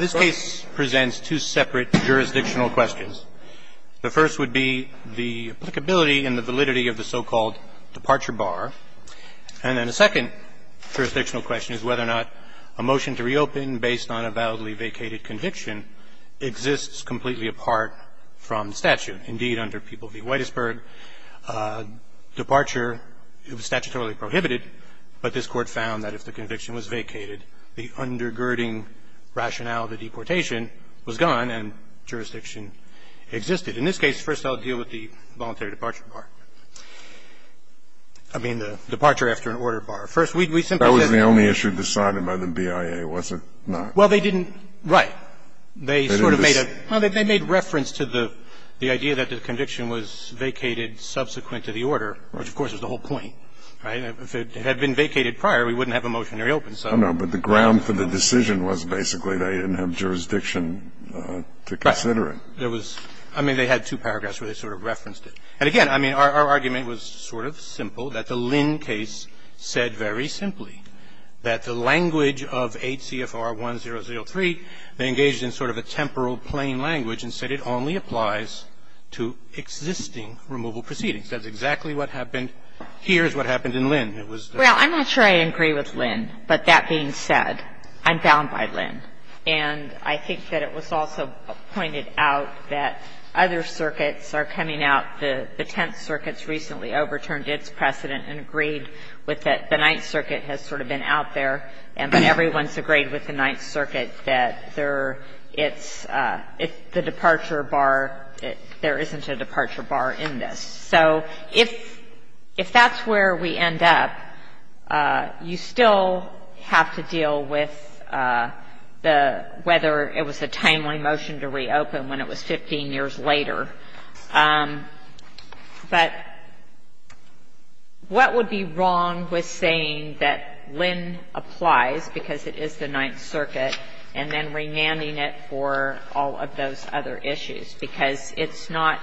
This case presents two separate jurisdictional questions. The first would be the applicability and the validity of the so-called departure bar. And then the second jurisdictional question is whether or not a motion to reopen based on a validly vacated conviction exists completely apart from statute. Indeed, under People v. Whiteisburg, departure was statutorily prohibited, but this Court found that if the conviction was vacated, the undergirding rationale of the deportation was gone and jurisdiction existed. In this case, first I'll deal with the voluntary departure bar. I mean, the departure after an order bar. First, we simply said the only issue decided by the BIA, was it not? Well, they didn't write. They sort of made a they made reference to the idea that the conviction was vacated subsequent to the order, which, of course, is the whole point, right? If it had been vacated prior, we wouldn't have a motion to reopen. I don't know, but the ground for the decision was basically they didn't have jurisdiction to consider it. There was, I mean, they had two paragraphs where they sort of referenced it. And, again, I mean, our argument was sort of simple, that the Linn case said very simply that the language of 8 CFR 1003, they engaged in sort of a temporal plain language and said it only applies to existing removal proceedings. That's exactly what happened here is what happened in Linn. And it was done. Well, I'm not sure I agree with Linn, but that being said, I'm bound by Linn. And I think that it was also pointed out that other circuits are coming out. The Tenth Circuit's recently overturned its precedent and agreed with it. The Ninth Circuit has sort of been out there, but everyone's agreed with the Ninth Circuit that there, it's, the departure bar, there isn't a departure bar in this. So if that's where we end up, you still have to deal with the, whether it was a timely motion to reopen when it was 15 years later. But what would be wrong with saying that Linn applies, because it is the Ninth Circuit, and then remanding it for all of those other issues? Because it's not,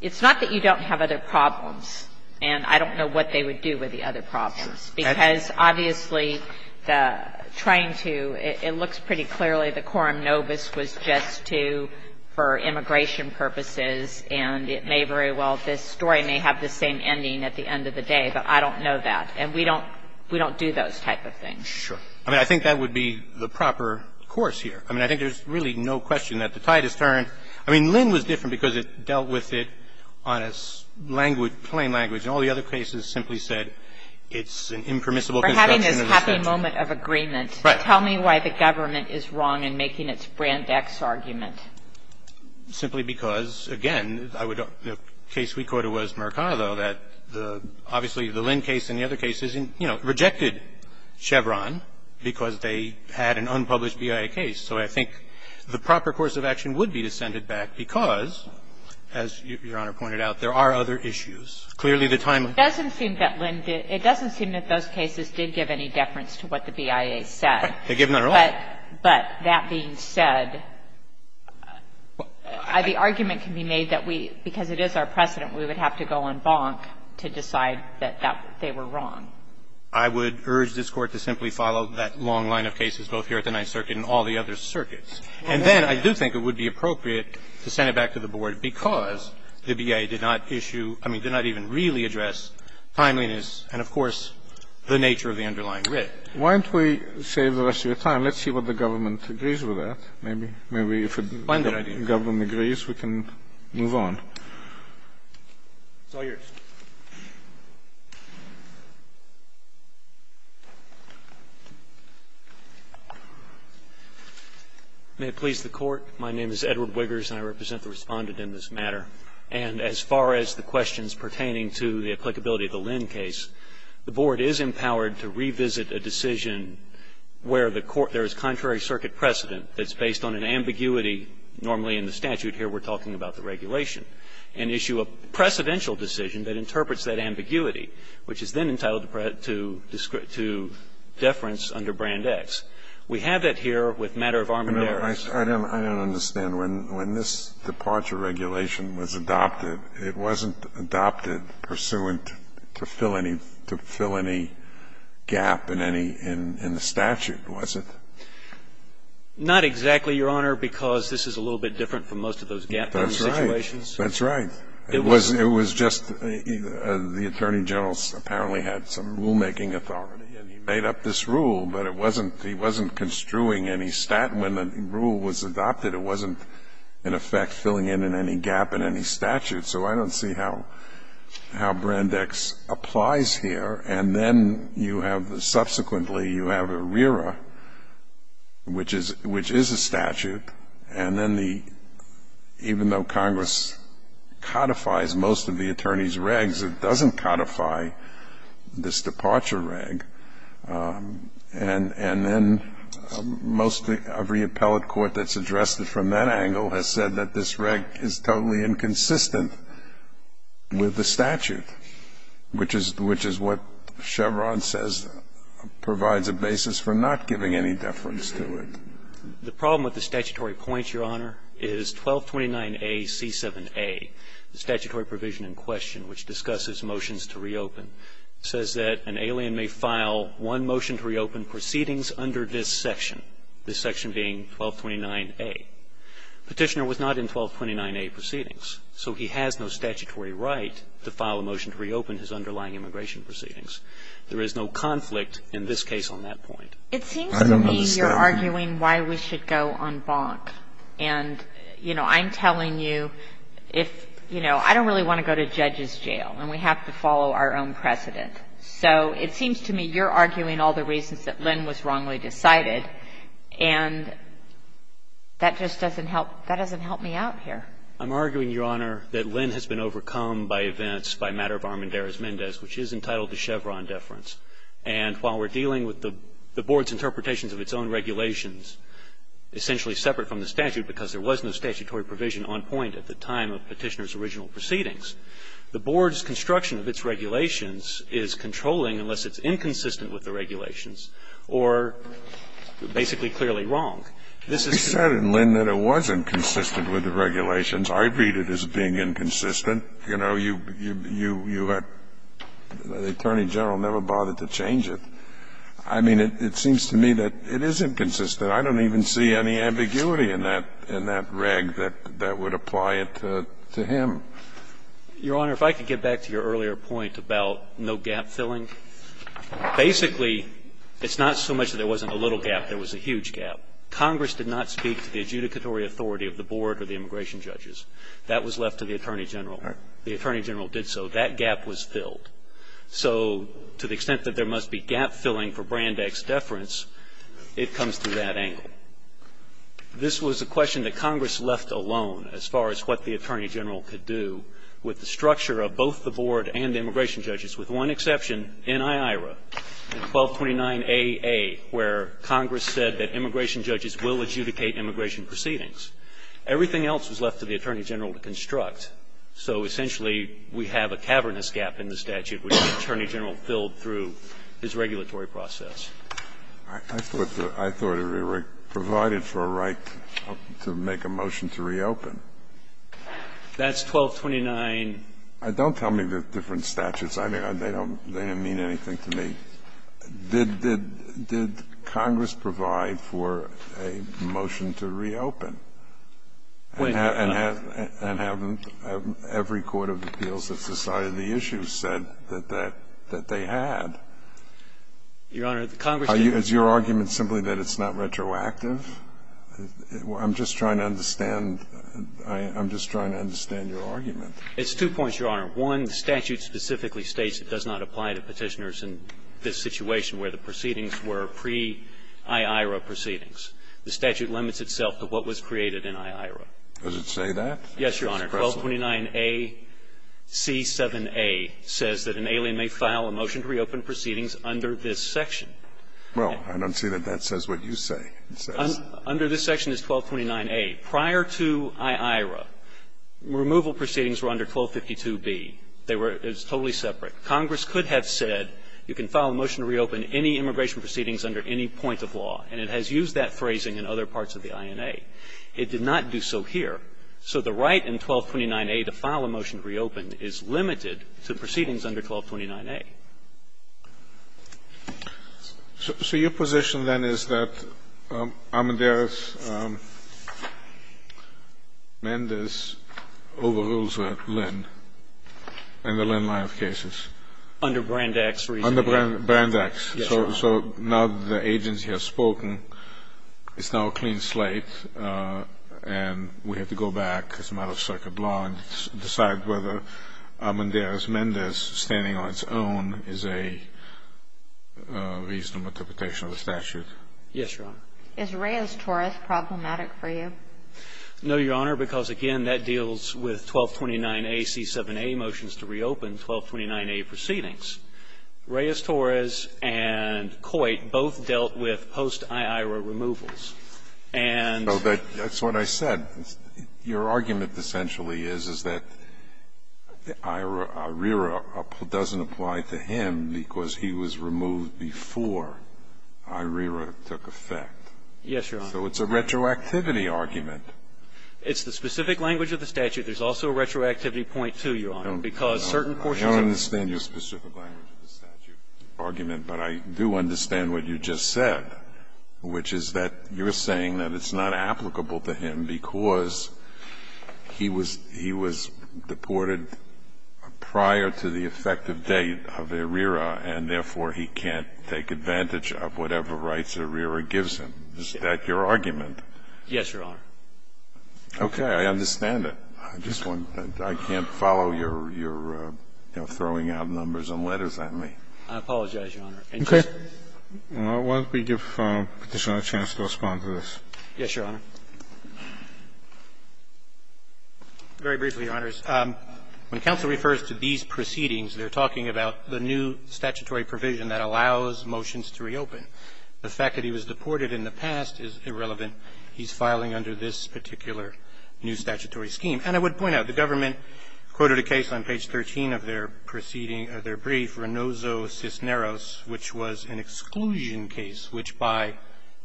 it's not that you don't have other problems, and I don't know what they would do with the other problems, because obviously, the trying to, it looks pretty clearly the quorum nobis was just to, for immigration purposes, and it may very well, this story may have the same ending at the end of the day, but I don't know that. And we don't, we don't do those type of things. Sure. I mean, I think that would be the proper course here. I mean, I think there's really no question that the tide has turned. I mean, Linn was different because it dealt with it on a language, plain language. And all the other cases simply said it's an impermissible construction of the statute. We're having this happy moment of agreement. Right. Tell me why the government is wrong in making its Brand X argument. Simply because, again, I would, the case we quoted was Mercado, that the, obviously, the Linn case and the other cases, you know, rejected Chevron because they had an unpublished BIA case. So I think the proper course of action would be to send it back, because, as Your Honor pointed out, there are other issues. Clearly, the time of the case. It doesn't seem that Linn did, it doesn't seem that those cases did give any deference to what the BIA said. They give none at all. But that being said, the argument can be made that we, because it is our precedent, we would have to go on bonk to decide that that, they were wrong. I would urge this Court to simply follow that long line of cases, both here at the Linn circuit and all the other circuits. And then I do think it would be appropriate to send it back to the Board, because the BIA did not issue, I mean, did not even really address timeliness and, of course, the nature of the underlying writ. Why don't we save the rest of your time? Let's see what the government agrees with that. Maybe, maybe if the government agrees, we can move on. It's all yours. Wiggers, and I represent the Respondent in this matter. And as far as the questions pertaining to the applicability of the Linn case, the Board is empowered to revisit a decision where the Court, there is contrary circuit precedent that's based on an ambiguity, normally in the statute, here we're talking about the regulation. And issue a precedential decision that interprets that ambiguity, which is then entitled to deference under Brand X. We have that here with matter of arm and arrow. Scalia, I don't understand. When this departure regulation was adopted, it wasn't adopted pursuant to fill any gap in any, in the statute, was it? Not exactly, Your Honor, because this is a little bit different from most of those gap-filling situations. That's right. It was, it was just, the Attorney General apparently had some rule-making authority, and he made up this rule, but it wasn't, he wasn't construing any stat, when the rule was adopted, it wasn't in effect filling in any gap in any statute. So I don't see how, how Brand X applies here. And then you have, subsequently, you have ARERA, which is, which is a statute. And then the, even though Congress codifies most of the attorney's regs, it doesn't codify this departure reg. And, and then most of the, every appellate court that's addressed it from that angle has said that this reg is totally inconsistent with the statute, which is, which is what Chevron says provides a basis for not giving any deference to it. The problem with the statutory point, Your Honor, is 1229A.C.7a, the statutory provision in question, which discusses motions to reopen, says that an alien may file one motion to reopen proceedings under this section, this section being 1229A. Petitioner was not in 1229A proceedings, so he has no statutory right to file a motion to reopen his underlying immigration proceedings. There is no conflict in this case on that point. It seems to me you're arguing why we should go on bonk. And, you know, I'm telling you, if, you know, I don't really want to go to judge's jail, and we have to follow our own precedent. So it seems to me you're arguing all the reasons that Lynn was wrongly decided. And that just doesn't help, that doesn't help me out here. I'm arguing, Your Honor, that Lynn has been overcome by events by matter of Armendariz Mendez, which is entitled to Chevron deference. And while we're dealing with the Board's interpretations of its own regulations, essentially separate from the statute, because there was no statutory provision on point at the time of Petitioner's original proceedings, the Board's construction of its regulations is controlling unless it's inconsistent with the regulations or basically clearly wrong. This is to say to me that it wasn't consistent with the regulations. I read it as being inconsistent. You know, you had the Attorney General never bothered to change it. I mean, it seems to me that it is inconsistent. I don't even see any ambiguity in that reg that would apply it to him. Your Honor, if I could get back to your earlier point about no gap filling. Basically, it's not so much that there wasn't a little gap, there was a huge gap. Congress did not speak to the adjudicatory authority of the Board or the immigration judges. That was left to the Attorney General. The Attorney General did so. That gap was filled. So to the extent that there must be gap filling for Brand X deference, it comes to that angle. This was a question that Congress left alone as far as what the Attorney General could do with the structure of both the Board and the immigration judges, with one exception, NIIRA and 1229aa, where Congress said that immigration judges will adjudicate immigration proceedings. Everything else was left to the Attorney General to construct. So essentially, we have a cavernous gap in the statute, which the Attorney General filled through his regulatory process. I thought that it provided for a right to make a motion to reopen. That's 1229. Don't tell me the different statutes. I mean, they don't mean anything to me. Did Congress provide for a motion to reopen? And haven't every court of appeals that's decided the issue said that they had? Your Honor, the Congress did not. Is your argument simply that it's not retroactive? I'm just trying to understand your argument. It's two points, Your Honor. One, the statute specifically states it does not apply to Petitioners in this situation where the proceedings were pre-IIRA proceedings. The statute limits itself to what was created in IIRA. Does it say that? Yes, Your Honor. 1229a C7a says that an alien may file a motion to reopen proceedings under this section. Well, I don't see that that says what you say. Under this section is 1229a. Prior to IIRA, removal proceedings were under 1252b. They were totally separate. Congress could have said you can file a motion to reopen any immigration proceedings under any point of law. And it has used that phrasing in other parts of the INA. It did not do so here. So the right in 1229a to file a motion to reopen is limited to proceedings under 1229a. So your position, then, is that Amadeus Mendes overrules Lynn in the Lynn line of cases? Under Brandax. Yes, Your Honor. So now that the agency has spoken, it's now a clean slate, and we have to go back as a matter of circuit law and decide whether Amadeus Mendes standing on its own is a reasonable interpretation of the statute. Yes, Your Honor. Is Reyes-Torres problematic for you? No, Your Honor, because, again, that deals with 1229a C7a, motions to reopen 1229a proceedings. Reyes-Torres and Coit both dealt with post-IIRA removals. And so that's what I said. Your argument essentially is, is that IRA, IRERA doesn't apply to him because he was removed before IRERA took effect. Yes, Your Honor. So it's a retroactivity argument. It's the specific language of the statute. There's also a retroactivity point, too, Your Honor, because certain portions of the statute. It's the specific language of the statute argument, but I do understand what you just said, which is that you're saying that it's not applicable to him because he was he was deported prior to the effective date of IRERA, and therefore, he can't take advantage of whatever rights IRERA gives him. Is that your argument? Yes, Your Honor. I understand it. I just want to go back. I can't follow your, you know, throwing out numbers and letters at me. I apologize, Your Honor. Okay. Why don't we give Petitioner a chance to respond to this. Yes, Your Honor. Very briefly, Your Honors. When counsel refers to these proceedings, they're talking about the new statutory provision that allows motions to reopen. The fact that he was deported in the past is irrelevant. He's filing under this particular new statutory scheme. And I would point out, the government quoted a case on page 13 of their proceeding of their brief, Reynoso-Cisneros, which was an exclusion case which, by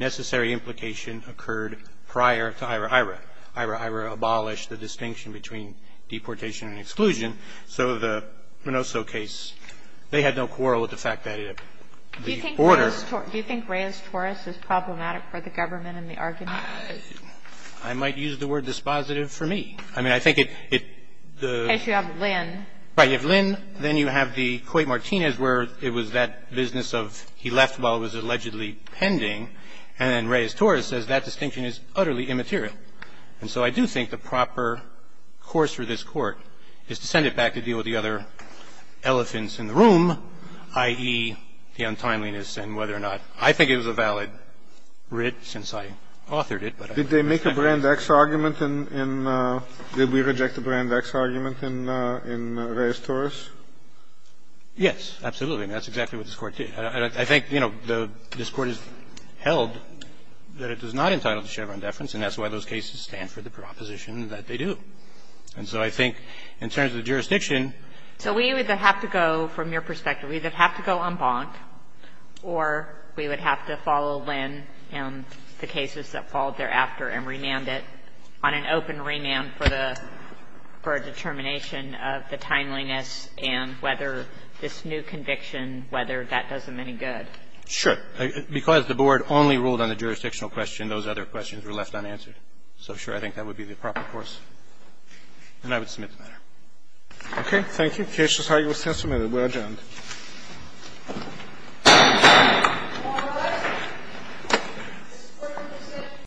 necessary implication, occurred prior to IRERA. IRERA abolished the distinction between deportation and exclusion. So the Reynoso case, they had no quarrel with the fact that it would be ordered. Do you think Reyes-Torres is problematic for the government in the argument? I might use the word dispositive for me. I mean, I think it, it, the – Because you have Lynn. Right. If Lynn, then you have the Coit Martinez where it was that business of he left while it was allegedly pending. And then Reyes-Torres says that distinction is utterly immaterial. And so I do think the proper course for this Court is to send it back to deal with the other elephants in the room, i.e., the untimeliness and whether or not – I think it was a valid writ since I authored it, but – Did they make a brand X argument in – did we reject the brand X argument in Reyes-Torres? Yes, absolutely. And that's exactly what this Court did. I think, you know, this Court has held that it is not entitled to Chevron deference, and that's why those cases stand for the proposition that they do. And so I think in terms of the jurisdiction – So we would have to go, from your perspective, we would have to go en banc or we would have to follow Lynn and the cases that followed thereafter and remand it on an open remand for the – for a determination of the timeliness and whether this new conviction, whether that does them any good. Sure. Because the Board only ruled on the jurisdictional question, those other questions were left unanswered. So, sure, I think that would be the proper course. And I would submit the matter. Okay. Thank you. The case is highly well-sensitive. We're adjourned.